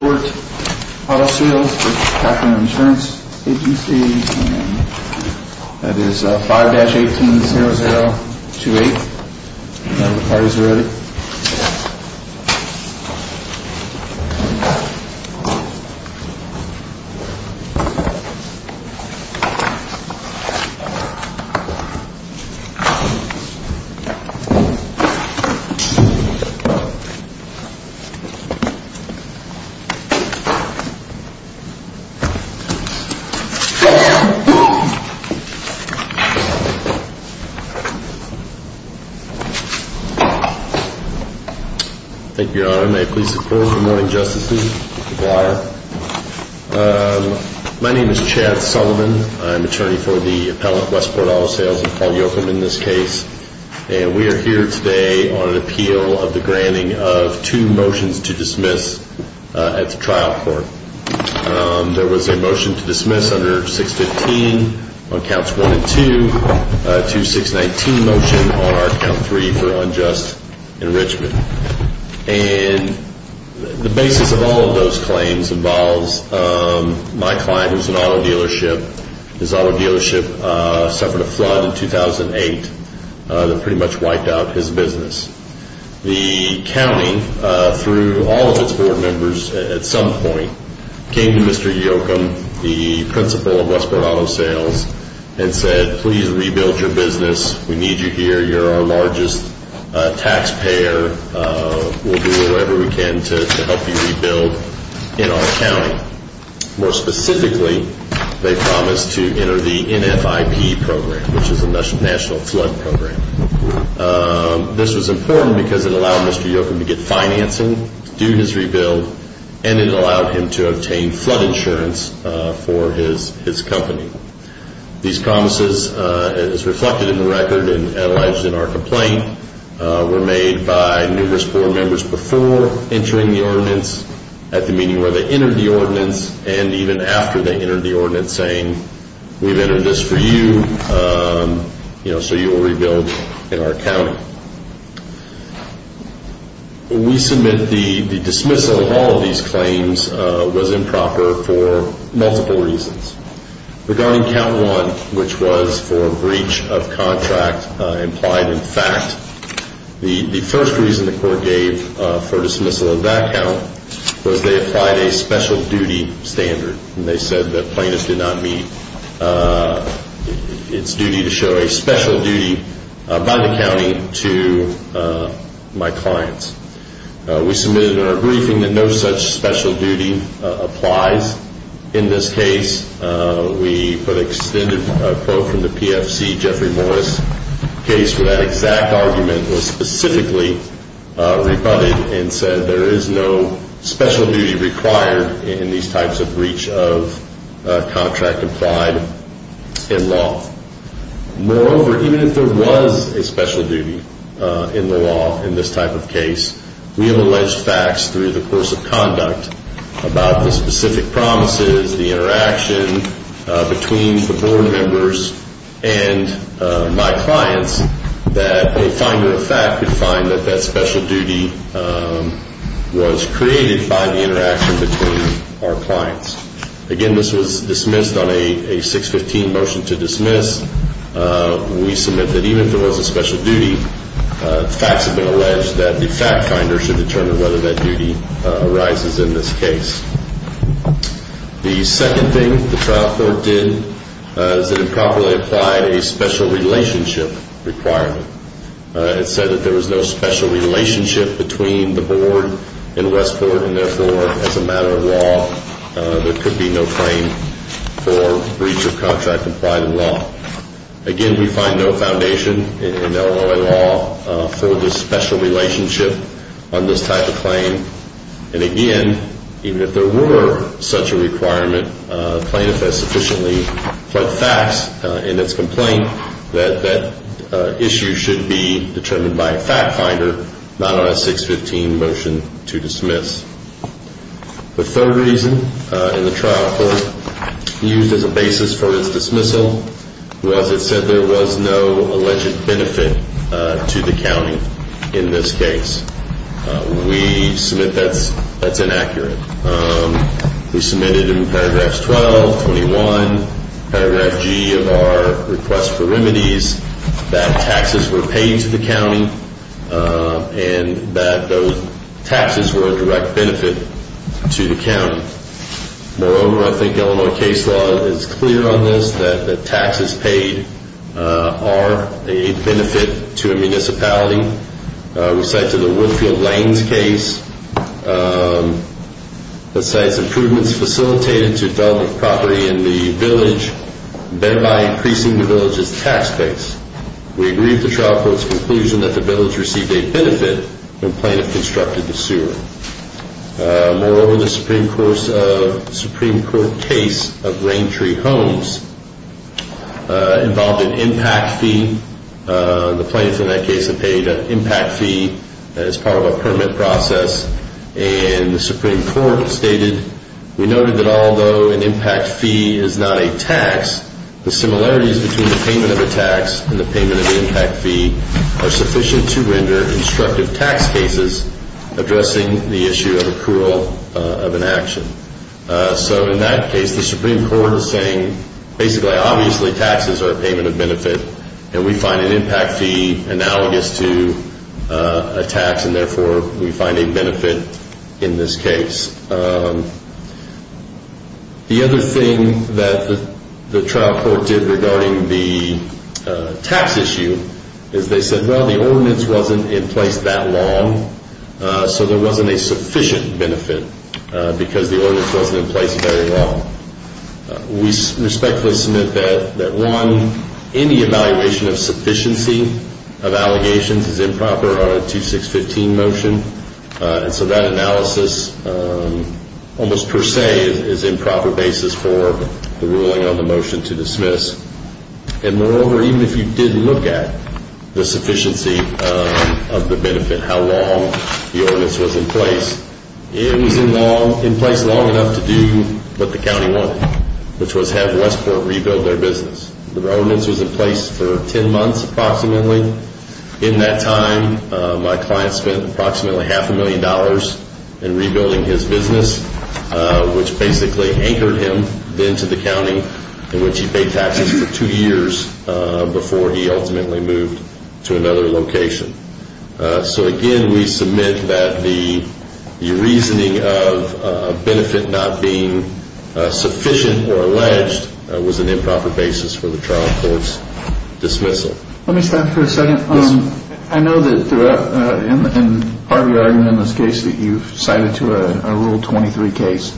Agency and that is 5-18-0028, if the parties are ready. Thank you, Your Honor. May it please the court. Good morning, Justices. Mr. Blighter. My name is Chad Sullivan. I'm attorney for the appellant Westport Auto Sales, Paul Yocum in this case. And we are here today on an appeal of the granting of two motions to dismiss at the trial court. There was a motion to dismiss under 6-15 on counts 1 and 2. A 2-6-19 motion on our count 3 for unjust enrichment. And the basis of all of those claims involves my client who is an auto dealership. His auto dealership suffered a flood in 2008 that pretty much wiped out his business. The county, through all of its board members at some point, came to Mr. Yocum, the principal of Westport Auto Sales and said, please rebuild your business. We need you here. You're our largest taxpayer. We'll do whatever we can to help you rebuild in our county. More specifically, they promised to enter the NFIP program, which is the National Flood Program. This was important because it allowed Mr. Yocum to get financing to do his rebuild and it allowed him to obtain flood insurance for his company. These promises as reflected in the record and analyzed in our complaint were made by numerous board members before entering the ordinance at the meeting where they entered the ordinance and even after they entered the ordinance saying, we've entered this for you so you will rebuild in our county. We submit the dismissal of all of these claims was improper for multiple reasons. Regarding count 1, which was for breach of contract implied in fact, the first reason the court gave for dismissal of that count was they applied a special duty standard. They said that plaintiffs did not meet its duty to show a special duty by the county to my clients. We submitted in our briefing that no such special duty applies in this case. We put an extended quote from the PFC, Jeffrey Morris, the case for that exact argument was specifically rebutted and said there is no special duty required in these types of breach of contract implied in law. Moreover, even if there was a special duty in the law in this type of case, we have alleged facts through the course of conduct about the specific promises, the interaction between the board members and my clients that a finder of the fact could find that that special duty was created by the interaction between our clients. Again, this was dismissed on a 615 motion to dismiss. We submit that even if there was a special duty, facts have been alleged that the fact finder should determine whether that duty arises in this case. The second thing the trial court did is it improperly applied a special relationship requirement. It said that there was no special relationship between the board and Westport and therefore as a matter of law, there could be no claim for breach of contract implied in law. Again, we find no foundation in LOA law for the special relationship on this type of claim. And again, even if there were such a requirement, plaintiffs have sufficiently put facts in its complaint that that issue should be determined by a fact finder, not on a 615 motion to dismiss. The third reason in the trial court used as a basis for its dismissal was it said there was no alleged benefit to the county in this case. We submit that's inaccurate. We submitted in paragraphs 12, 25, and 26, that there was no benefit to the county in this case. In paragraph 21, paragraph G of our request for remedies, that taxes were paid to the county and that those taxes were a direct benefit to the county. Moreover, I think Illinois case law is clear on this, that the taxes paid are a benefit to a municipality. We cite to the Woodfield Lanes case, the site's improvements to the village, thereby increasing the village's tax base. We agree with the trial court's conclusion that the village received a benefit when plaintiff constructed the sewer. Moreover, the Supreme Court case of Raintree Homes involved an impact fee. The plaintiff in that case had paid an impact fee as part of a permit process. And the Supreme Court stated, we believe that an impact fee is not a tax. The similarities between the payment of a tax and the payment of an impact fee are sufficient to render instructive tax cases addressing the issue of accrual of an action. So in that case, the Supreme Court is saying basically obviously taxes are a payment of benefit and we find an impact fee analogous to a tax and therefore we find a benefit in this case. The other thing that the trial court did regarding the tax issue is they said, well, the ordinance wasn't in place that long, so there wasn't a sufficient benefit because the ordinance wasn't in place very long. We respectfully submit that one, any evaluation of sufficiency of allegations is improper on a 2615 motion and so that analysis almost per se is improper basis for the ruling on the motion to dismiss. And moreover, even if you did look at the sufficiency of the benefit, how long the ordinance was in place, it was in place long enough to do what the county wanted, which was have Westport rebuild their business. The ordinance was in place for 10 months approximately. In that time, my client spent approximately half a million dollars in rebuilding his business, which basically anchored him into the county in which he paid taxes for two years before he ultimately moved to another location. So again, we submit that the reasoning of benefit not being sufficient or alleged was an improper basis for the trial court's dismissal. Let me stop for a second. I know that in part of your argument in this case that you cited to a Rule 23 case,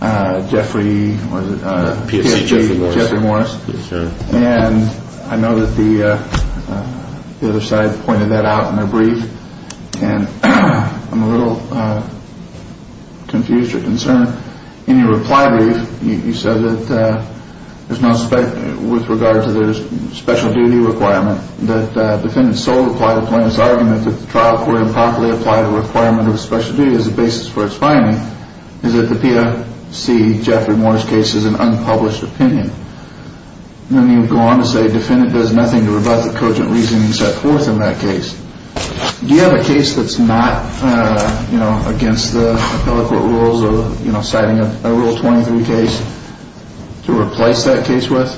Jeffrey, was it? P.S.C. Jeffrey Morris. Jeffrey Morris. Yes, sir. And I know that the other side pointed that out in their brief and I'm a little confused as to your concern. In your reply brief, you said that there's no spec with regard to the special duty requirement that defendants solely apply the plaintiff's argument that the trial court improperly applied the requirement of the special duty as a basis for its finding is that the P.S.C. Jeffrey Morris case is an unpublished opinion. Then you go on to say defendant does nothing to rebut the cogent reasoning set forth in that case. Do you have a case that's not against the appellate court rules of citing a Rule 23 case to replace that case with?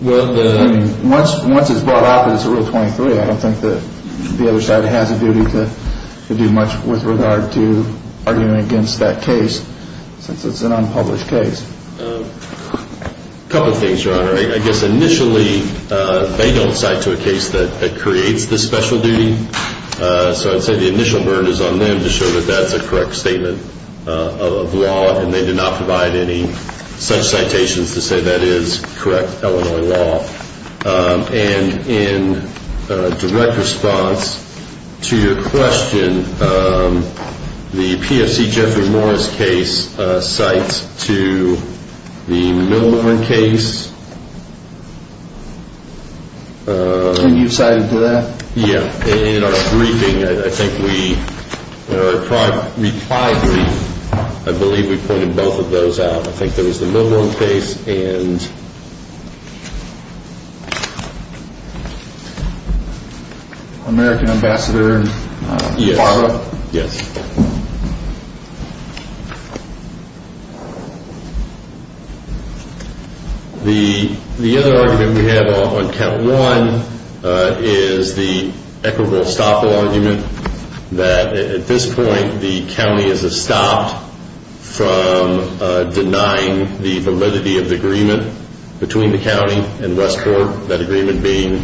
Well, the I mean, once it's brought up that it's a Rule 23, I don't think that the other side has a duty to do much with regard to arguing against that case since it's an unpublished case. A couple of things, Your Honor. I guess initially they don't cite to a case that creates the special duty. So I'd say the initial burn is on them to show that that's a correct statement of law and they did not provide any such citations to say that is correct Illinois law. And in direct response to your question, the P.S.C. Jeffrey Morris case cites to the Millburn case. And you cited to that? Yeah. In our briefing, I think we tried to reply briefly. I believe we pointed both of those out. I think there was the Millburn case and American ambassador. Yes. The the other argument we have on count one is the equitable stoppable argument that at this point, the county is stopped from denying the validity of the agreement between the county and Westport. That agreement being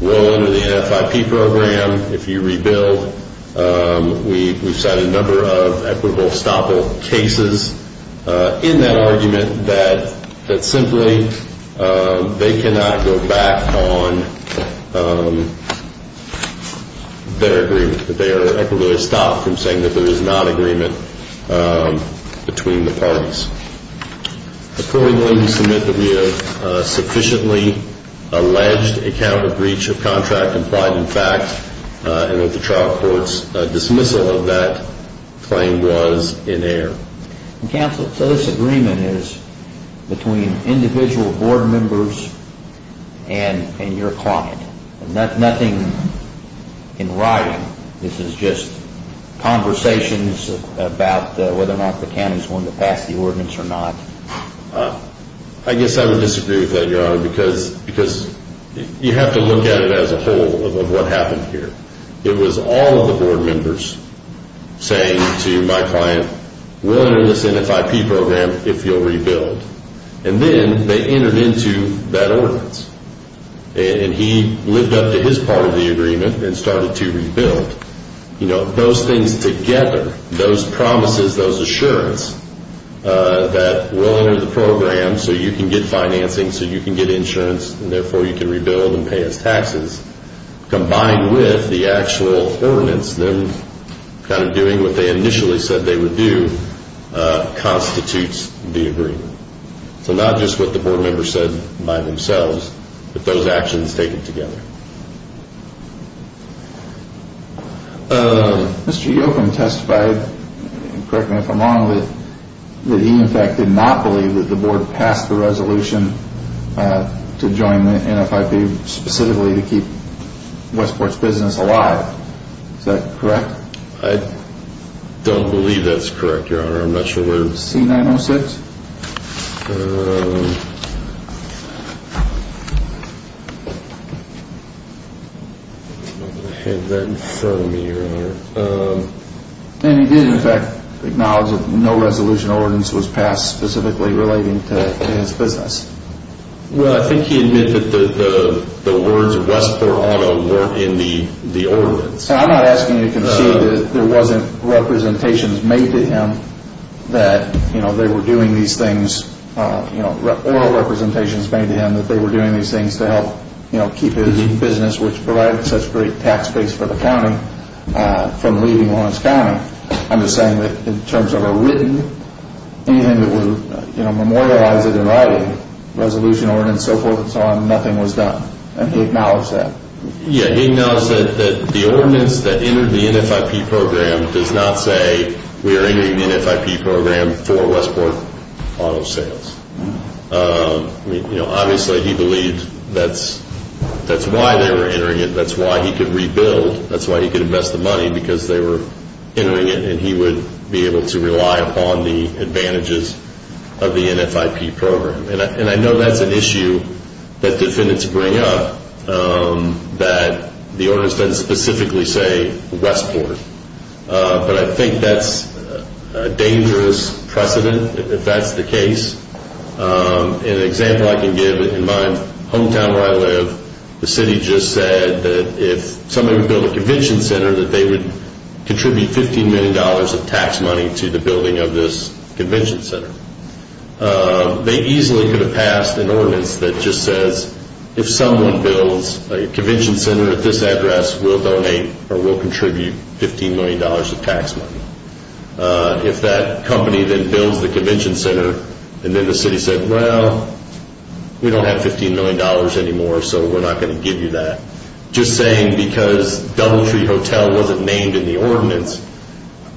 one of the F.I.P. program. If you rebuild, we we've had a number of equitable stop all cases in that argument that that simply they cannot go back on their agreement. That they are equitably stopped from saying that there is not agreement between the parties. Accordingly, we submit that we have sufficiently alleged a counter breach of contract implied in fact and that the trial court's dismissal of that claim was in error. Counsel, so this agreement is between individual board members and your client. Nothing in writing. This is just conversations about whether or not the county is willing to pass the ordinance or not. I guess I would disagree with that, Your Honor, because you have to look at it as a whole of what happened here. It was all of the board members saying to my client, we'll enter this F.I.P. program if you'll rebuild. And then they entered into that ordinance. And he lived up to his part of the agreement and started to rebuild. Those things together, those promises, those assurances that we'll enter the program so you can get financing, so you can get insurance, and therefore you can rebuild and pay his taxes, combined with the actual ordinance, them kind of doing what they initially said they would do, constitutes the agreement. So not just what the board members said by themselves, but those actions taken together. Mr. Yocum testified, correct me if I'm wrong, that he in fact did not believe that the board passed the resolution to join the F.I.P. specifically to keep Westport's business alive. Is that correct? I don't believe that's correct, Your Honor. I'm not sure where... C-906? And he did in fact acknowledge that no resolution ordinance was passed specifically relating to his business. Well, I think he admitted that the words Westport Auto weren't in the ordinance. I'm not asking you to concede that there wasn't representations made to him that they were doing these things, oral representations made to him that they were doing these things to help keep his business, which provided such great tax base for the county, from leaving Lawrence County. I'm just saying that in terms of a written, anything that would memorialize it in writing, resolution ordinance, so forth and so on, nothing was done. And he acknowledged that. Yeah, he acknowledged that the ordinance that entered the F.I.P. program does not say we are entering the F.I.P. program for Westport Auto Sales. Obviously he believed that's why they were entering it, that's why he could rebuild, that's why he could invest the money, because they were entering it, and he would be able to rely upon the advantages of the NFIP program. And I know that's an issue that defendants bring up, that the ordinance doesn't specifically say Westport. But I think that's a dangerous precedent, if that's the case. An example I can give, in my hometown where I live, the city just said that if somebody would build a convention center, that they would contribute $15 million of tax money to the building of this convention center. They easily could have passed an ordinance that just says if someone builds a convention center at this address, we'll donate or we'll contribute $15 million of tax money. If that company then builds the convention center, and then the city said, well, we don't have $15 million anymore, so we're not going to give you that. Just saying because Doubletree Hotel wasn't named in the ordinance,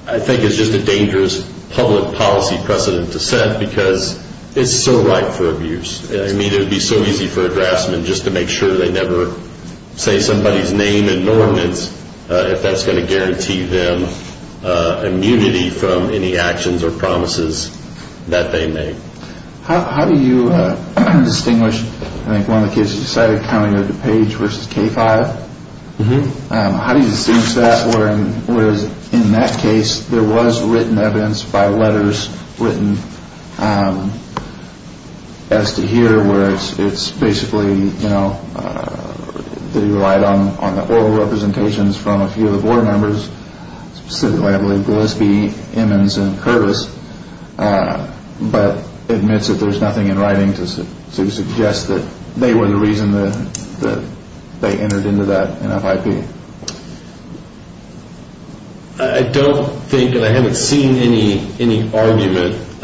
I think is just a dangerous public policy precedent to set, because it's so ripe for abuse. I mean, it would be so easy for a draftsman just to make sure they never say somebody's name in an ordinance, if that's going to guarantee them immunity from any actions or promises that they make. How do you distinguish, I think one of the cases you cited, County of DuPage versus K-5? How do you distinguish that, whereas in that case, there was written evidence by letters written as to here, where it's basically, you know, they relied on the oral representations from a few of the board members, specifically, I believe, Gillespie, Emmons, and Curtis, but admits that there's nothing in writing to suggest that they were the reason that they entered into that NFIP? I don't think, and I haven't seen any argument that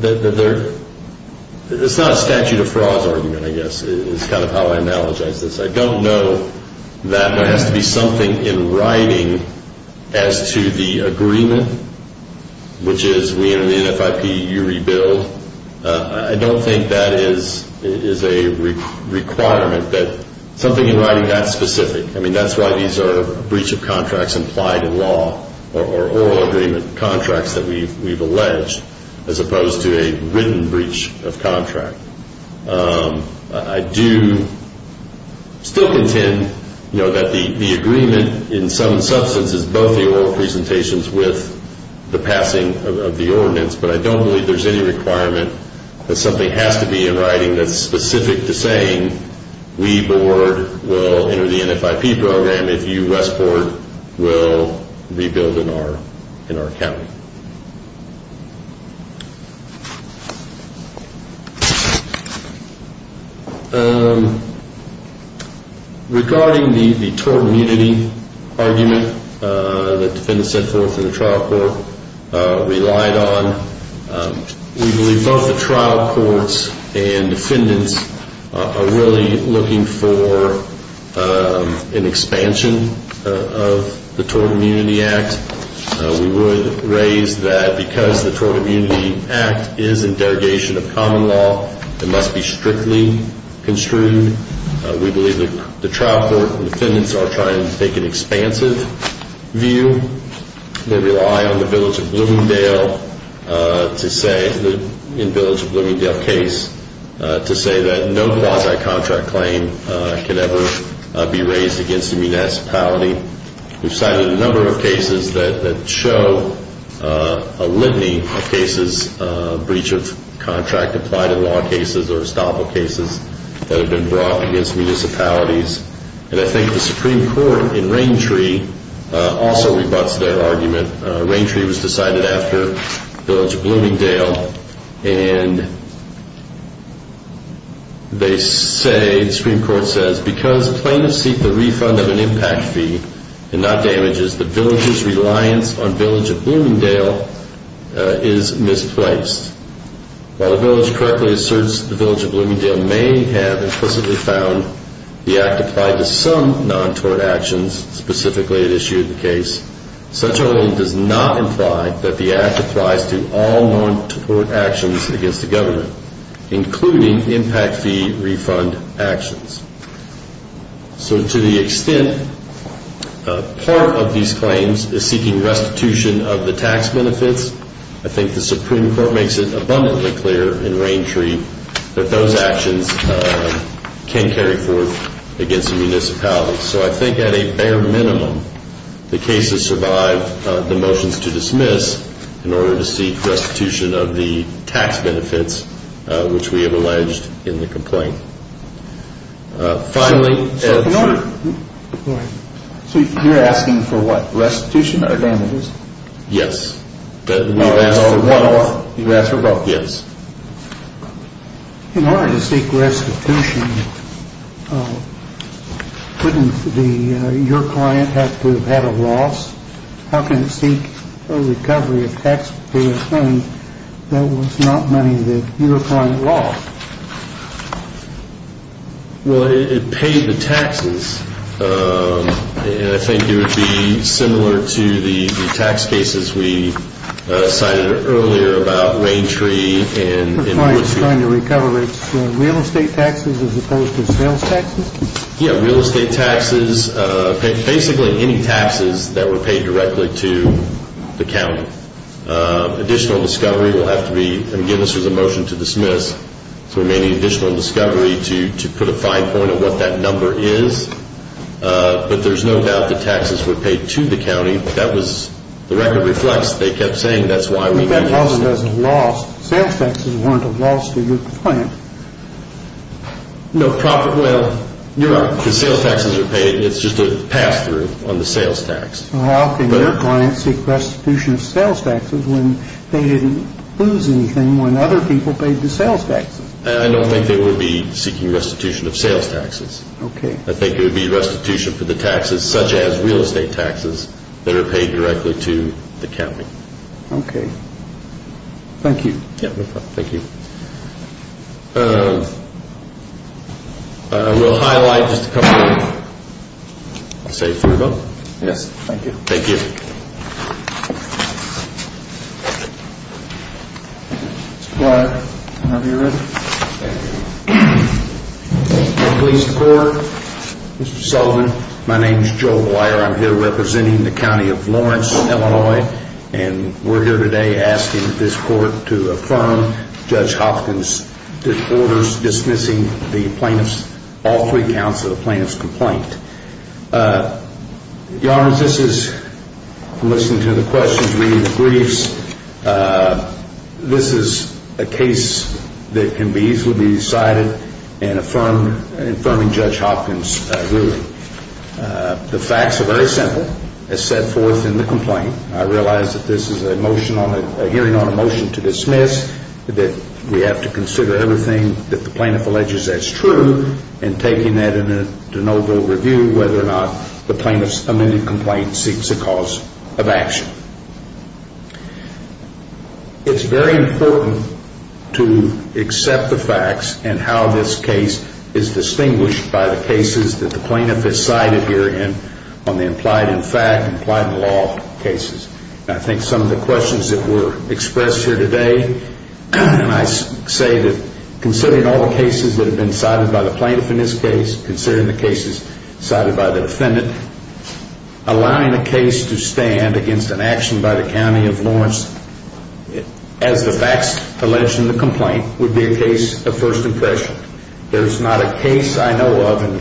there, it's not a statute of frauds argument, I guess, is kind of how I analogize this. I don't know that there has to be something in writing as to the agreement, which is we enter the NFIP, you rebuild. I don't think that is a requirement that something in writing that specific. I mean, that's why these are breach of contracts implied in law or oral agreement contracts that we've alleged, as opposed to a written breach of contract. I do still contend, you know, that the agreement in some substance is both the oral presentations with the passing of the ordinance, but I don't believe there's any requirement that something has to be in writing that's specific to saying we board will enter the NFIP program if you west board will rebuild in our county. Regarding the tort immunity argument that the defendants set forth in the trial court relied on, we believe both the trial courts and defendants are really looking for an expansion of the Tort Immunity Act. We would raise that because the Tort Immunity Act is in derogation of common law, it must be strictly construed. We believe that the trial court and defendants are trying to take an expansive view. They rely on the Village of Bloomingdale to say, in the Village of Bloomingdale case, to say that no quasi-contract claim can ever be raised against a municipality. We've cited a number of cases that show a litany of cases, breach of contract applied in law cases or estoppel cases, that have been brought against municipalities. And I think the Supreme Court in Raintree also rebuts their argument. Raintree was decided after the Village of Bloomingdale. And they say, the Supreme Court says, because plaintiffs seek the refund of an impact fee and not damages, the Village's reliance on the Village of Bloomingdale is misplaced. While the Village correctly asserts the Village of Bloomingdale may have implicitly found the act applied to some non-tort actions, specifically it issued the case, such a ruling does not imply that the act applies to all non-tort actions against the government, including impact fee refund actions. So to the extent part of these claims is seeking restitution of the tax benefits, I think the Supreme Court makes it abundantly clear in Raintree that those actions can carry forth against a municipality. So I think at a bare minimum, the cases survive the motions to dismiss in order to seek restitution of the tax benefits, which we have alleged in the complaint. Finally... So you're asking for what, restitution or damages? Yes. You asked for both. Yes. In order to seek restitution, couldn't your client have to have had a loss? How can it seek a recovery of taxpayer's money that was not money that your client lost? Well, it paid the taxes. And I think it would be similar to the tax cases we cited earlier about Raintree and... So the client is trying to recover its real estate taxes as opposed to sales taxes? Yes, real estate taxes, basically any taxes that were paid directly to the county. Additional discovery will have to be, and again this was a motion to dismiss, so we may need additional discovery to put a fine point on what that number is. But there's no doubt the taxes were paid to the county. That was, the record reflects, they kept saying that's why we... If that wasn't as a loss, sales taxes weren't a loss to your client? No, proper, well... Because sales taxes are paid, it's just a pass-through on the sales tax. So how can your client seek restitution of sales taxes when they didn't lose anything when other people paid the sales taxes? I don't think they would be seeking restitution of sales taxes. I think it would be restitution for the taxes such as real estate taxes that are paid directly to the county. Okay, thank you. Yeah, no problem, thank you. We'll highlight just a couple of... I'll say it for you both. Yes, thank you. Thank you. Mr. Blyer, whenever you're ready. Thank you. Police court, Mr. Sullivan, my name's Joe Blyer. I'm here representing the county of Lawrence, Illinois, and we're here today asking this court to affirm Judge Hopkins' orders dismissing the plaintiff's, all three counts of the plaintiff's complaint. Your Honor, this is, from listening to the questions, reading the briefs, this is a case that can be easily decided in affirming Judge Hopkins' ruling. The facts are very simple. As set forth in the complaint, I realize that this is a hearing on a motion to dismiss, that we have to consider everything that the plaintiff alleges as true, and taking that into noble review whether or not the plaintiff's amended complaint seeks a cause of action. It's very important to accept the facts and how this case is distinguished by the cases that the plaintiff has cited here on the implied-in-fact, implied-in-law cases. I think some of the questions that were expressed here today, I say that considering all the cases that have been cited by the plaintiff in this case, considering the cases cited by the defendant, allowing a case to stand against an action by the county of Lawrence as the facts alleged in the complaint would be a case of first impression. There's not a case I know of, and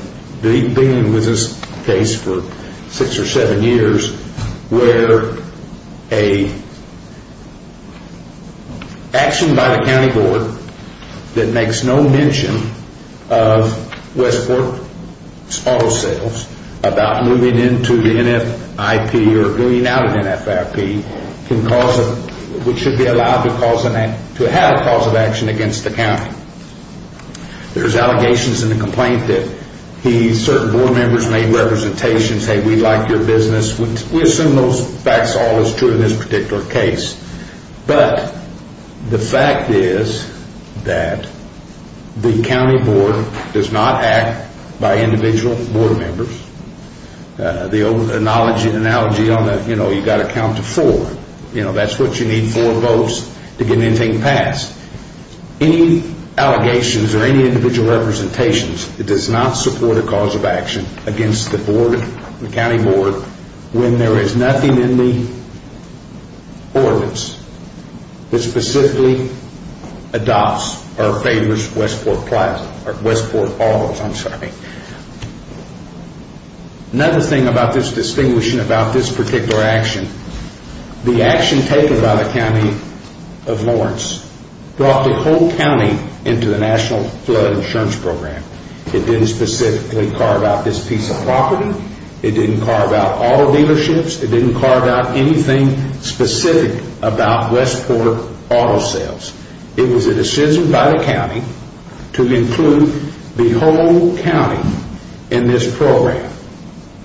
being with this case for six or seven years, where an action by the county board that makes no mention of Westport's auto sales about moving into the NFIP or moving out of NFIP, which should be allowed to have a cause of action against the county. There's allegations in the complaint that certain board members made representations, saying, we like your business. We assume those facts are always true in this particular case. But the fact is that the county board does not act by individual board members. The analogy, you've got to count to four. That's what you need, four votes to get anything passed. Any allegations or any individual representations that does not support a cause of action against the board, the county board, when there is nothing in the ordinance that specifically adopts or favors Westport Auto. Another thing about this distinguishing about this particular action, the action taken by the county of Lawrence brought the whole county into the National Flood Insurance Program. It didn't specifically carve out this piece of property. It didn't carve out auto dealerships. It didn't carve out anything specific about Westport Auto sales. It was a decision by the county to include the whole county in this program,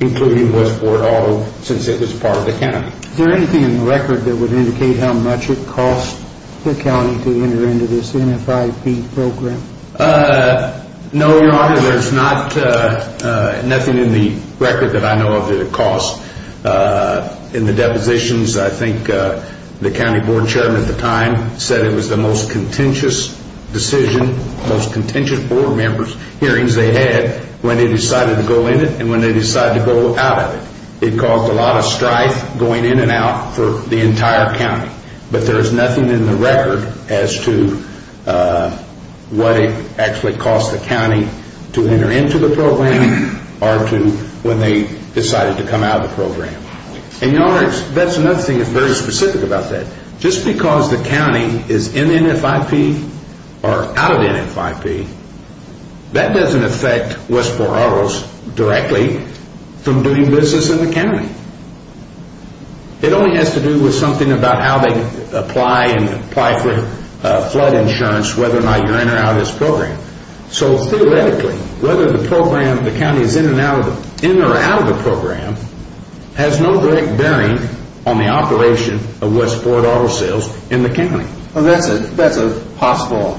including Westport Auto, since it was part of the county. Is there anything in the record that would indicate how much it cost the county to enter into this NFIP program? No, Your Honor. There's nothing in the record that I know of that it cost. In the depositions, I think the county board chairman at the time said it was the most contentious decision, most contentious board members' hearings they had when they decided to go in it and when they decided to go out of it. It caused a lot of strife going in and out for the entire county. But there's nothing in the record as to what it actually cost the county to enter into the program or to when they decided to come out of the program. And, Your Honor, that's another thing that's very specific about that. Just because the county is in NFIP or out of NFIP, that doesn't affect Westport Autos directly from doing business in the county. It only has to do with something about how they apply and apply for flood insurance, whether or not you're in or out of this program. So, theoretically, whether the county is in or out of the program has no direct bearing on the operation of Westport Auto sales in the county. Well, that's a possible...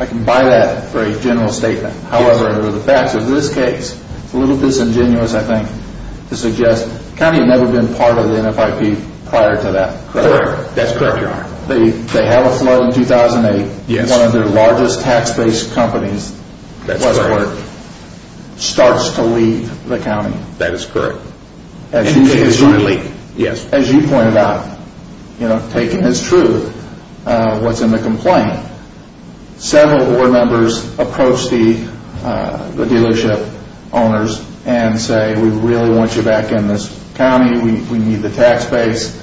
I can buy that for a general statement. However, the facts of this case, it's a little disingenuous, I think, to suggest the county had never been part of the NFIP prior to that. Correct. That's correct, Your Honor. They had a flood in 2008. Yes. And one of their largest tax-based companies, Westport, starts to leave the county. That is correct. As you pointed out, you know, taking as true what's in the complaint, several board members approach the dealership owners and say, We really want you back in this county. We need the tax base.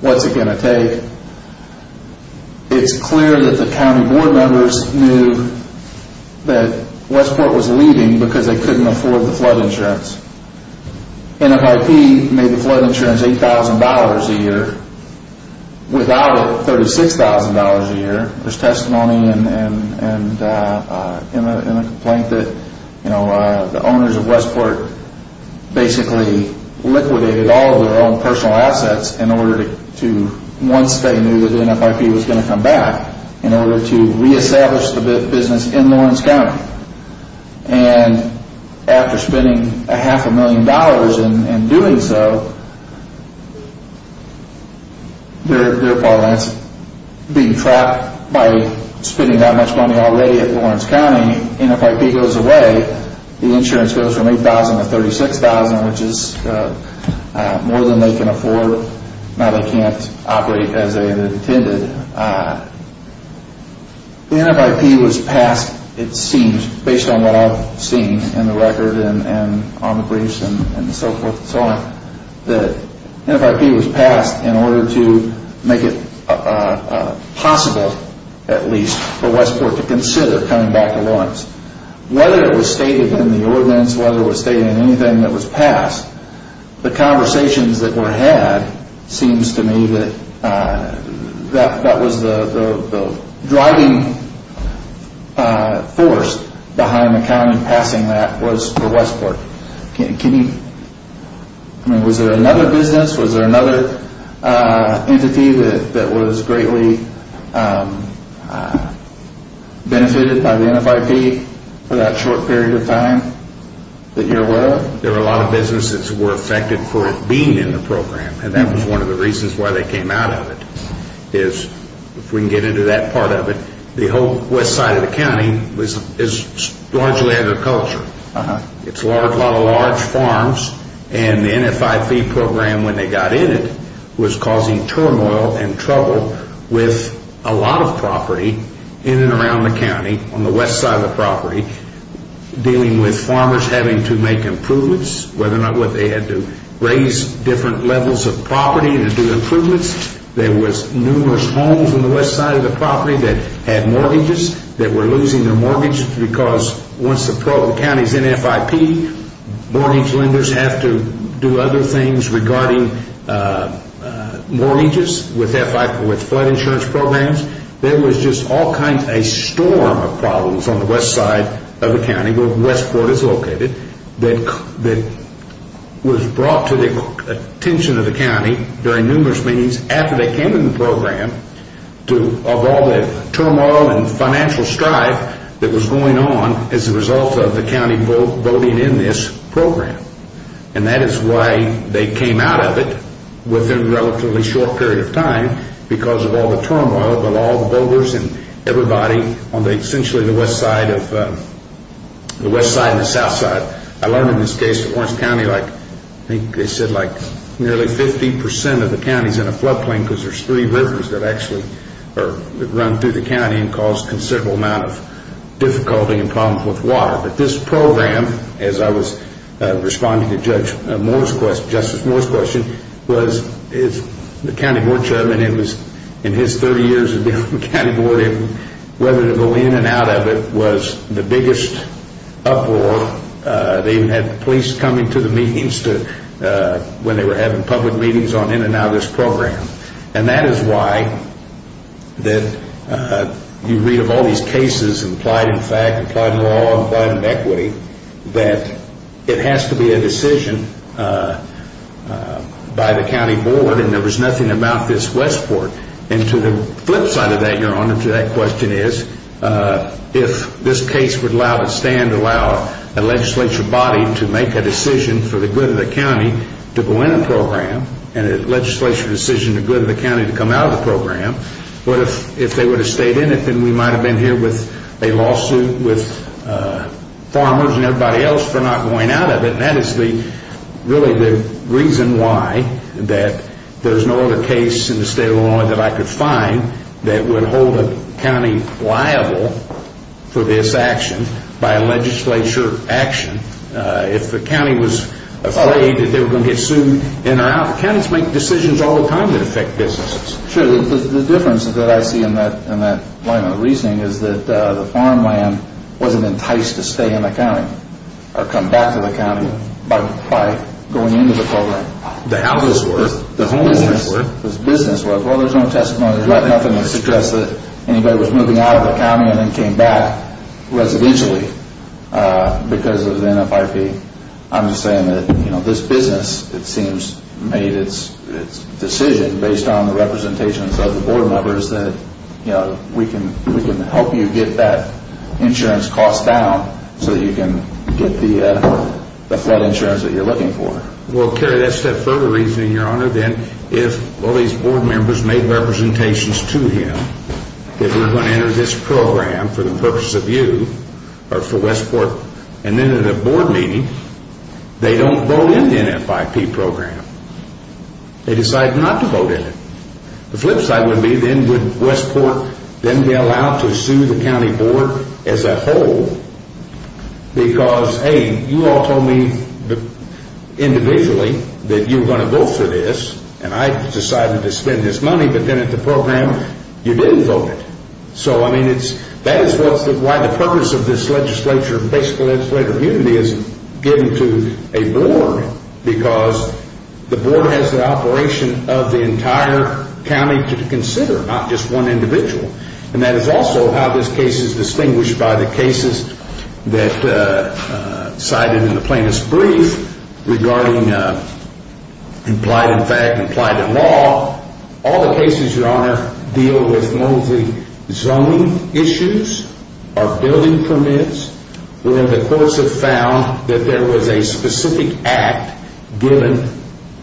What's it going to take? It's clear that the county board members knew that Westport was leaving because they couldn't afford the flood insurance. NFIP made the flood insurance $8,000 a year. Without it, $36,000 a year. There's testimony in the complaint that, you know, the owners of Westport basically liquidated all of their own personal assets in order to, once they knew that NFIP was going to come back, in order to reestablish the business in Lawrence County. And after spending a half a million dollars in doing so, they're being trapped by spending that much money already at Lawrence County. NFIP goes away. The insurance goes from $8,000 to $36,000, which is more than they can afford. Now they can't operate as they intended. NFIP was passed, it seems, based on what I've seen in the record and on the briefs and so forth and so on. That NFIP was passed in order to make it possible, at least, for Westport to consider coming back to Lawrence. Whether it was stated in the ordinance, whether it was stated in anything that was passed, the conversations that were had seems to me that that was the driving force behind the county passing that was for Westport. Was there another business, was there another entity that was greatly benefited by the NFIP for that short period of time that you're aware of? There were a lot of businesses that were affected for being in the program, and that was one of the reasons why they came out of it. If we can get into that part of it, the whole west side of the county is largely agricultural. It's a lot of large farms, and the NFIP program, when they got in it, was causing turmoil and trouble with a lot of property in and around the county on the west side of the property, dealing with farmers having to make improvements, whether or not they had to raise different levels of property to do improvements. There was numerous homes on the west side of the property that had mortgages that were losing their mortgages because once the county is NFIP, mortgage lenders have to do other things regarding mortgages with flood insurance programs. There was just all kinds, a storm of problems on the west side of the county, where Westport is located, that was brought to the attention of the county, after they came into the program, of all the turmoil and financial strife that was going on as a result of the county voting in this program. And that is why they came out of it within a relatively short period of time, because of all the turmoil of all the voters and everybody on the west side and the south side. I learned in this case that Orange County, nearly 50% of the county is in a flood plain because there are three rivers that run through the county and cause a considerable amount of difficulty and problems with water. But this program, as I was responding to Justice Moore's question, was the county board chairman, in his 30 years of being on the county board, whether to go in and out of it was the biggest uproar. They even had police coming to the meetings when they were having public meetings on in and out of this program. And that is why you read of all these cases, implied in fact, implied in law, implied in equity, that it has to be a decision by the county board and there was nothing about this Westport. And to the flip side of that, Your Honor, to that question is, if this case would allow a stand, allow a legislature body to make a decision for the good of the county to go in a program and a legislature decision for the good of the county to come out of the program, what if they would have stayed in it, then we might have been here with a lawsuit with farmers and everybody else for not going out of it. And that is really the reason why that there is no other case in the state of Illinois that I could find that would hold a county liable for this action by a legislature action. If the county was afraid that they were going to get sued in or out, counties make decisions all the time that affect businesses. Sure, the difference that I see in that line of reasoning is that the farmland wasn't enticed to stay in the county or come back to the county by going into the program. The houses were. The homes were. The business was. Well, there is no testimony. There is nothing to suggest that anybody was moving out of the county and then came back residentially because of the NFIP. I am just saying that this business, it seems, made its decision based on the representations of the board members that we can help you get that insurance cost down so that you can get the flood insurance that you are looking for. Well, Kerry, that is that further reasoning, Your Honor. Then if all these board members made representations to him that we are going to enter this program for the purpose of you or for Westport and then at a board meeting, they don't vote in the NFIP program. They decide not to vote in it. The flip side would be then would Westport then be allowed to sue the county board as a whole because, hey, you all told me individually that you were going to vote for this and I decided to spend this money, but then at the program you didn't vote. So, I mean, that is why the purpose of this legislature, basic legislature of unity, is getting to a board because the board has the operation of the entire county to consider, not just one individual. And that is also how this case is distinguished by the cases that cited in the plaintiff's brief regarding implied in fact, implied in law. All the cases, Your Honor, deal with mostly zoning issues or building permits where the courts have found that there was a specific act given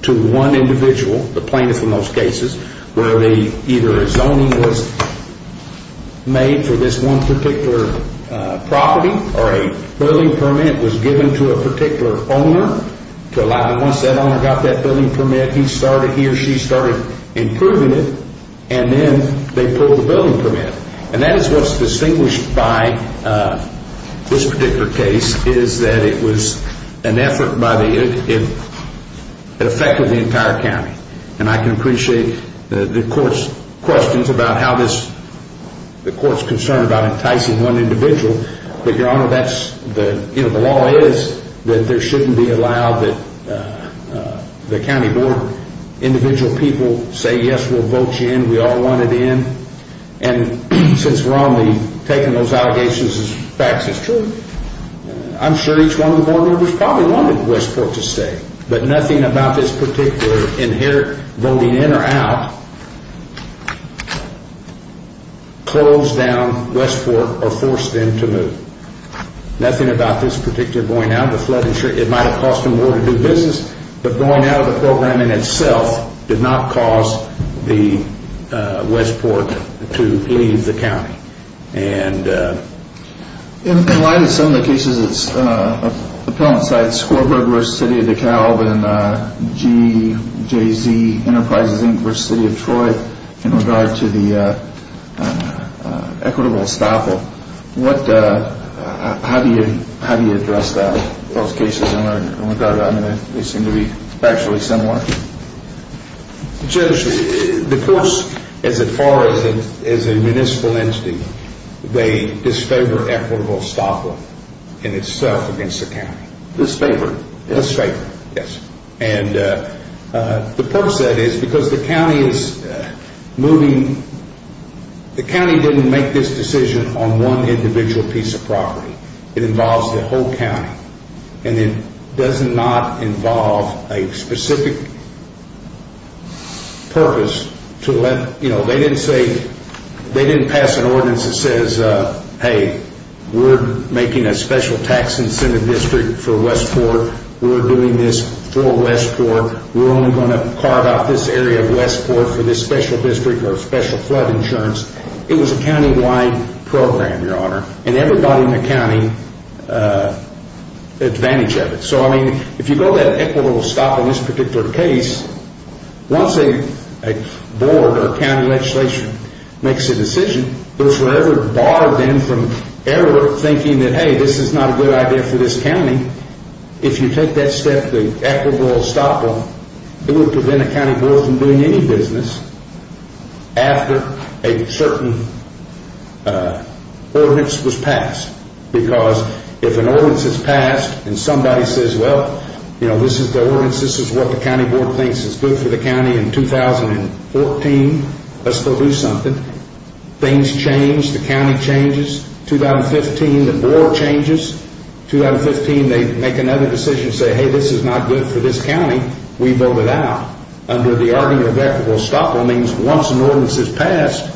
to one individual, the plaintiff in most cases, where either a zoning was made for this one particular property or a building permit was given to a particular owner to allow him, once that owner got that building permit, he started, he or she started improving it and then they pulled the building permit. And that is what's distinguished by this particular case is that it was an effort by the, it affected the entire county. And I can appreciate the court's questions about how this, the court's concern about enticing one individual, but, Your Honor, that's the, you know, the law is that there shouldn't be allowed that the county board individual people say, yes, we'll vote you in, we all want it in. And since we're on the taking those allegations as facts, it's true. I'm sure each one of the board members probably wanted Westport to stay, but nothing about this particular inherent voting in or out closed down Westport or forced them to move. Nothing about this particular going out of the flood insurance, it might have cost them more to do business, but going out of the program in itself did not cause the Westport to leave the county. And... In light of some of the cases of appellant sites, Squawbrook v. City of DeKalb and GJZ Enterprises Inc. v. City of Troy, in regard to the equitable estoppel, what, how do you, how do you address that, those cases in regard to, I mean, they seem to be actually similar? Judge, the courts, as far as a municipal entity, they disfavor equitable estoppel in itself against the county. Disfavor? Disfavor, yes. And the court said it's because the county is moving, the county didn't make this decision on one individual piece of property. It involves the whole county. And it does not involve a specific purpose to let, you know, they didn't say, they didn't pass an ordinance that says, hey, we're making a special tax incentive district for Westport. We're doing this for Westport. We're only going to carve out this area of Westport for this special district or special flood insurance. It was a county-wide program, Your Honor. And everybody in the county advantaged of it. So, I mean, if you go to that equitable estoppel in this particular case, once a board or county legislation makes a decision, they're forever barred then from ever thinking that, hey, this is not a good idea for this county. If you take that step, the equitable estoppel, it would prevent a county board from doing any business after a certain ordinance was passed. Because if an ordinance is passed and somebody says, well, you know, this is the ordinance, this is what the county board thinks is good for the county in 2014, let's go do something. Things change. The county changes. 2015, the board changes. 2015, they make another decision and say, hey, this is not good for this county. We vote it out. Under the argument of equitable estoppel means once an ordinance is passed,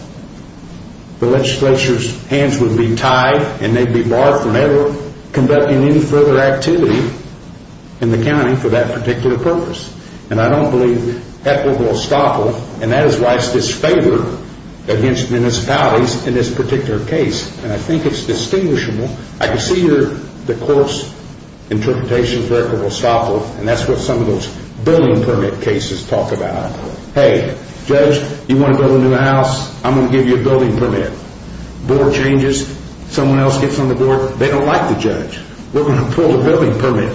the legislature's hands would be tied and they'd be barred from ever conducting any further activity in the county for that particular purpose. And I don't believe equitable estoppel, and that is why it's disfavored against municipalities in this particular case. And I think it's distinguishable. I can see the court's interpretation of equitable estoppel, and that's what some of those building permit cases talk about. Hey, judge, you want to build a new house? I'm going to give you a building permit. Board changes. Someone else gets on the board. They don't like the judge. We're going to pull the building permit.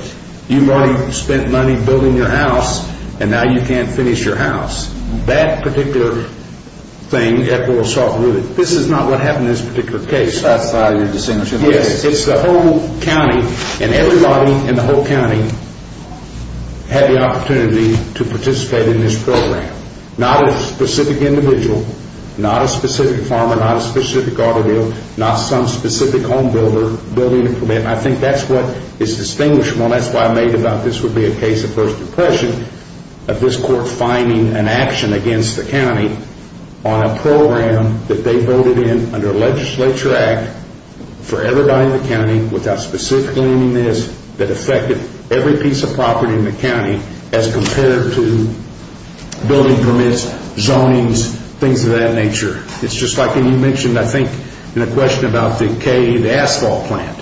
You've already spent money building your house, and now you can't finish your house. That particular thing, equitable estoppel, this is not what happened in this particular case. Yes, it's the whole county, and everybody in the whole county had the opportunity to participate in this program. Not a specific individual, not a specific farmer, not a specific automobile, not some specific home builder building a permit. And I think that's what is distinguishable, and that's why I made it about this would be a case of first impression of this court finding an action against the county on a program that they voted in under a legislature act for everybody in the county without specifically naming this that affected every piece of property in the county as compared to building permits, zonings, things of that nature. It's just like you mentioned, I think, in a question about the cave asphalt plant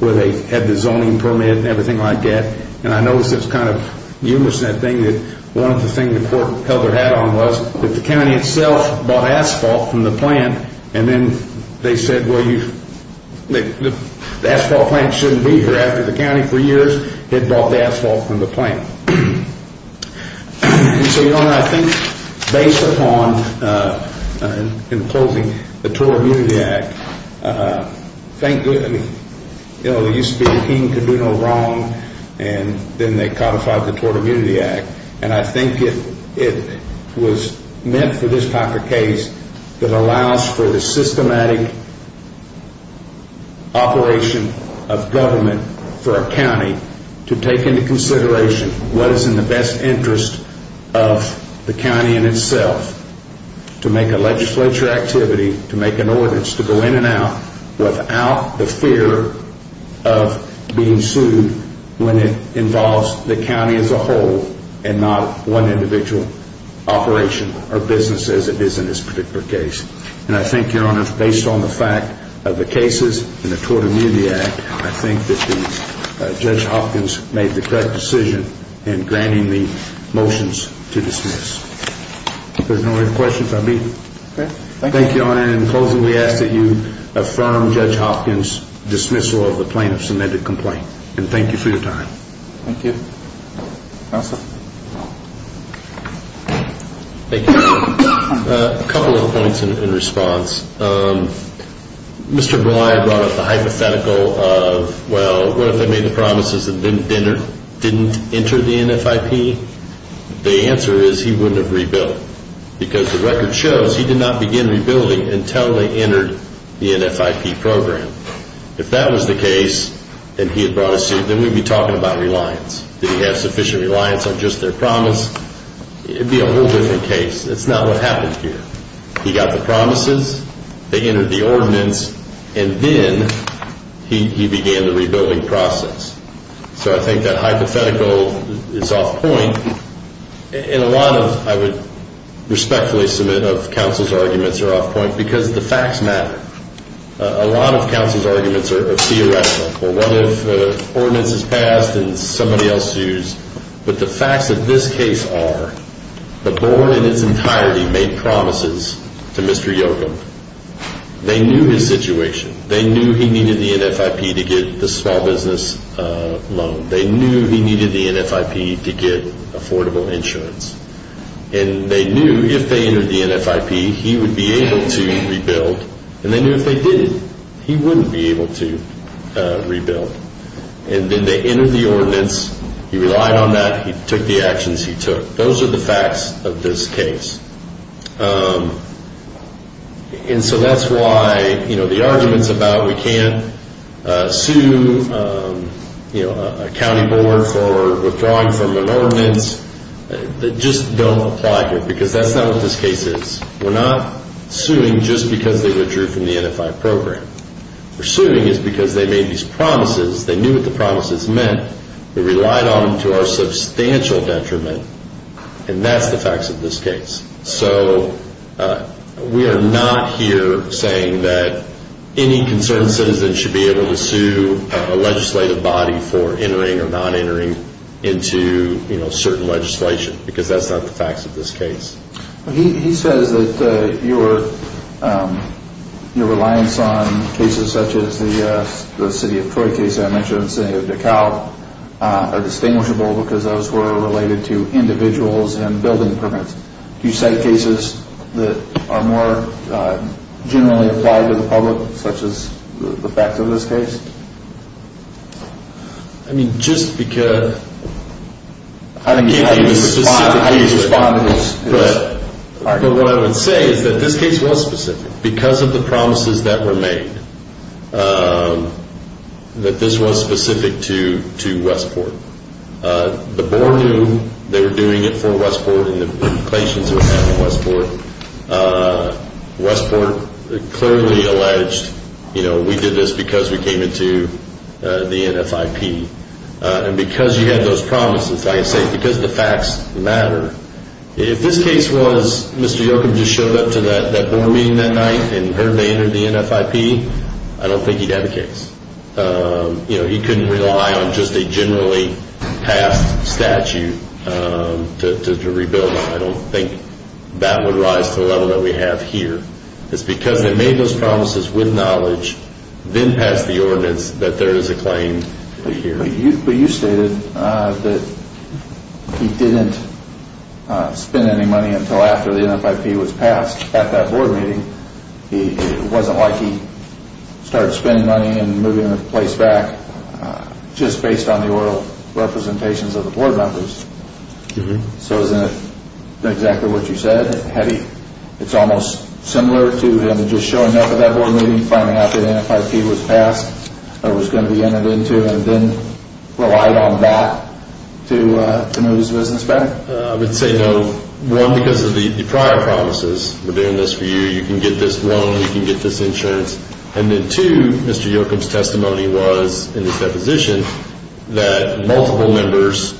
where they had the zoning permit and everything like that, and I notice it's kind of humorous in that thing that one of the things the court held their hat on was that the county itself bought asphalt from the plant, and then they said, well, the asphalt plant shouldn't be here. After the county for years had bought the asphalt from the plant. And so, Your Honor, I think based upon, in closing, the Tort Immunity Act, there used to be a king could do no wrong, and then they codified the Tort Immunity Act, and I think it was meant for this type of case that allows for the systematic operation of government for a county to take into consideration what is in the best interest of the county in itself to make a legislature activity, to make an ordinance, to go in and out without the fear of being sued when it involves the county as a whole and not one individual operation or business as it is in this particular case. And I think, Your Honor, based on the fact of the cases in the Tort Immunity Act, I think that Judge Hopkins made the correct decision in granting the motions to dismiss. If there's no other questions, I'll be... Thank you, Your Honor. And in closing, we ask that you affirm Judge Hopkins' dismissal of the plaintiff's submitted complaint. And thank you for your time. Thank you. Counsel. Thank you. A couple of points in response. Mr. Bly brought up the hypothetical of, well, what if they made the promises and didn't enter the NFIP? The answer is he wouldn't have rebuilt. Because the record shows he did not begin rebuilding until they entered the NFIP program. If that was the case and he had brought a suit, then we'd be talking about reliance. Did he have sufficient reliance on just their promise? It would be a whole different case. It's not what happened here. He got the promises, they entered the ordinance, and then he began the rebuilding process. So I think that hypothetical is off point. And a lot of, I would respectfully submit, of counsel's arguments are off point because the facts matter. A lot of counsel's arguments are theoretical. Well, what if the ordinance is passed and somebody else sues? But the facts of this case are the board in its entirety made promises to Mr. Yoakum. They knew his situation. They knew he needed the NFIP to get the small business loan. They knew he needed the NFIP to get affordable insurance. And they knew if they entered the NFIP, he would be able to rebuild. And they knew if they didn't, he wouldn't be able to rebuild. And then they entered the ordinance. He relied on that. He took the actions he took. Those are the facts of this case. And so that's why the arguments about we can't sue a county board for withdrawing from an ordinance just don't apply here. Because that's not what this case is. We're not suing just because they withdrew from the NFIP program. We're suing because they made these promises. They knew what the promises meant. They relied on them to our substantial detriment. And that's the facts of this case. So we are not here saying that any concerned citizen should be able to sue a legislative body for entering or not entering into, you know, certain legislation. Because that's not the facts of this case. He says that your reliance on cases such as the City of Troy case I mentioned and City of DeKalb are distinguishable because those were related to individuals and building permits. Do you cite cases that are more generally applied to the public such as the facts of this case? I mean, just because... I can't give you a specific case, but what I would say is that this case was specific because of the promises that were made. That this was specific to Westport. The board knew they were doing it for Westport and the implications it would have on Westport. Westport clearly alleged, you know, we did this because we came into the NFIP. And because you had those promises, I say because the facts matter, if this case was Mr. Yoakum just showed up to that board meeting that night and heard they entered the NFIP, I don't think he'd have a case. You know, he couldn't rely on just a generally passed statute to rebuild. I don't think that would rise to the level that we have here. It's because they made those promises with knowledge, then passed the ordinance, that there is a claim here. But you stated that he didn't spend any money until after the NFIP was passed at that board meeting. It wasn't like he started spending money and moving the place back just based on the oral representations of the board members. So isn't that exactly what you said? It's almost similar to him just showing up at that board meeting, finding out the NFIP was passed, or was going to be entered into, and then relied on that to move his business back? I would say no. One, because of the prior promises, we're doing this for you, you can get this loan, you can get this insurance. And then two, Mr. Yoakum's testimony was, in his deposition, that multiple members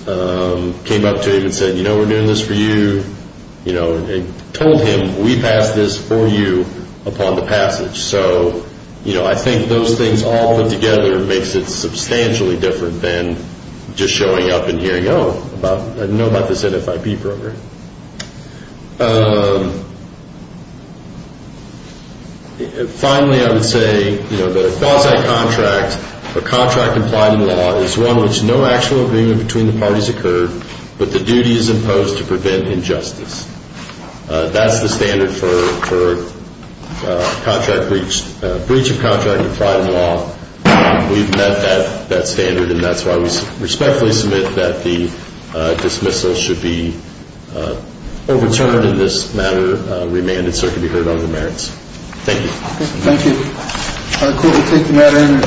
came up to him and said, you know, we're doing this for you. You know, and told him, we passed this for you upon the passage. So, you know, I think those things all put together makes it substantially different than just showing up and hearing, oh, I know about this NFIP program. Finally, I would say, you know, that a quasi-contract, a contract implied in law, is one in which no actual agreement between the parties occurred, but the duty is imposed to prevent injustice. That's the standard for breach of contract implied in law. We've met that standard, and that's why we respectfully submit that the dismissal should be overturned in this matter, remanded, so it can be heard on the merits. Thank you. Thank you. Could we take the matter into consideration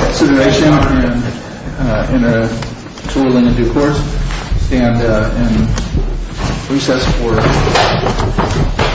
in a tool in the due course? And recess for...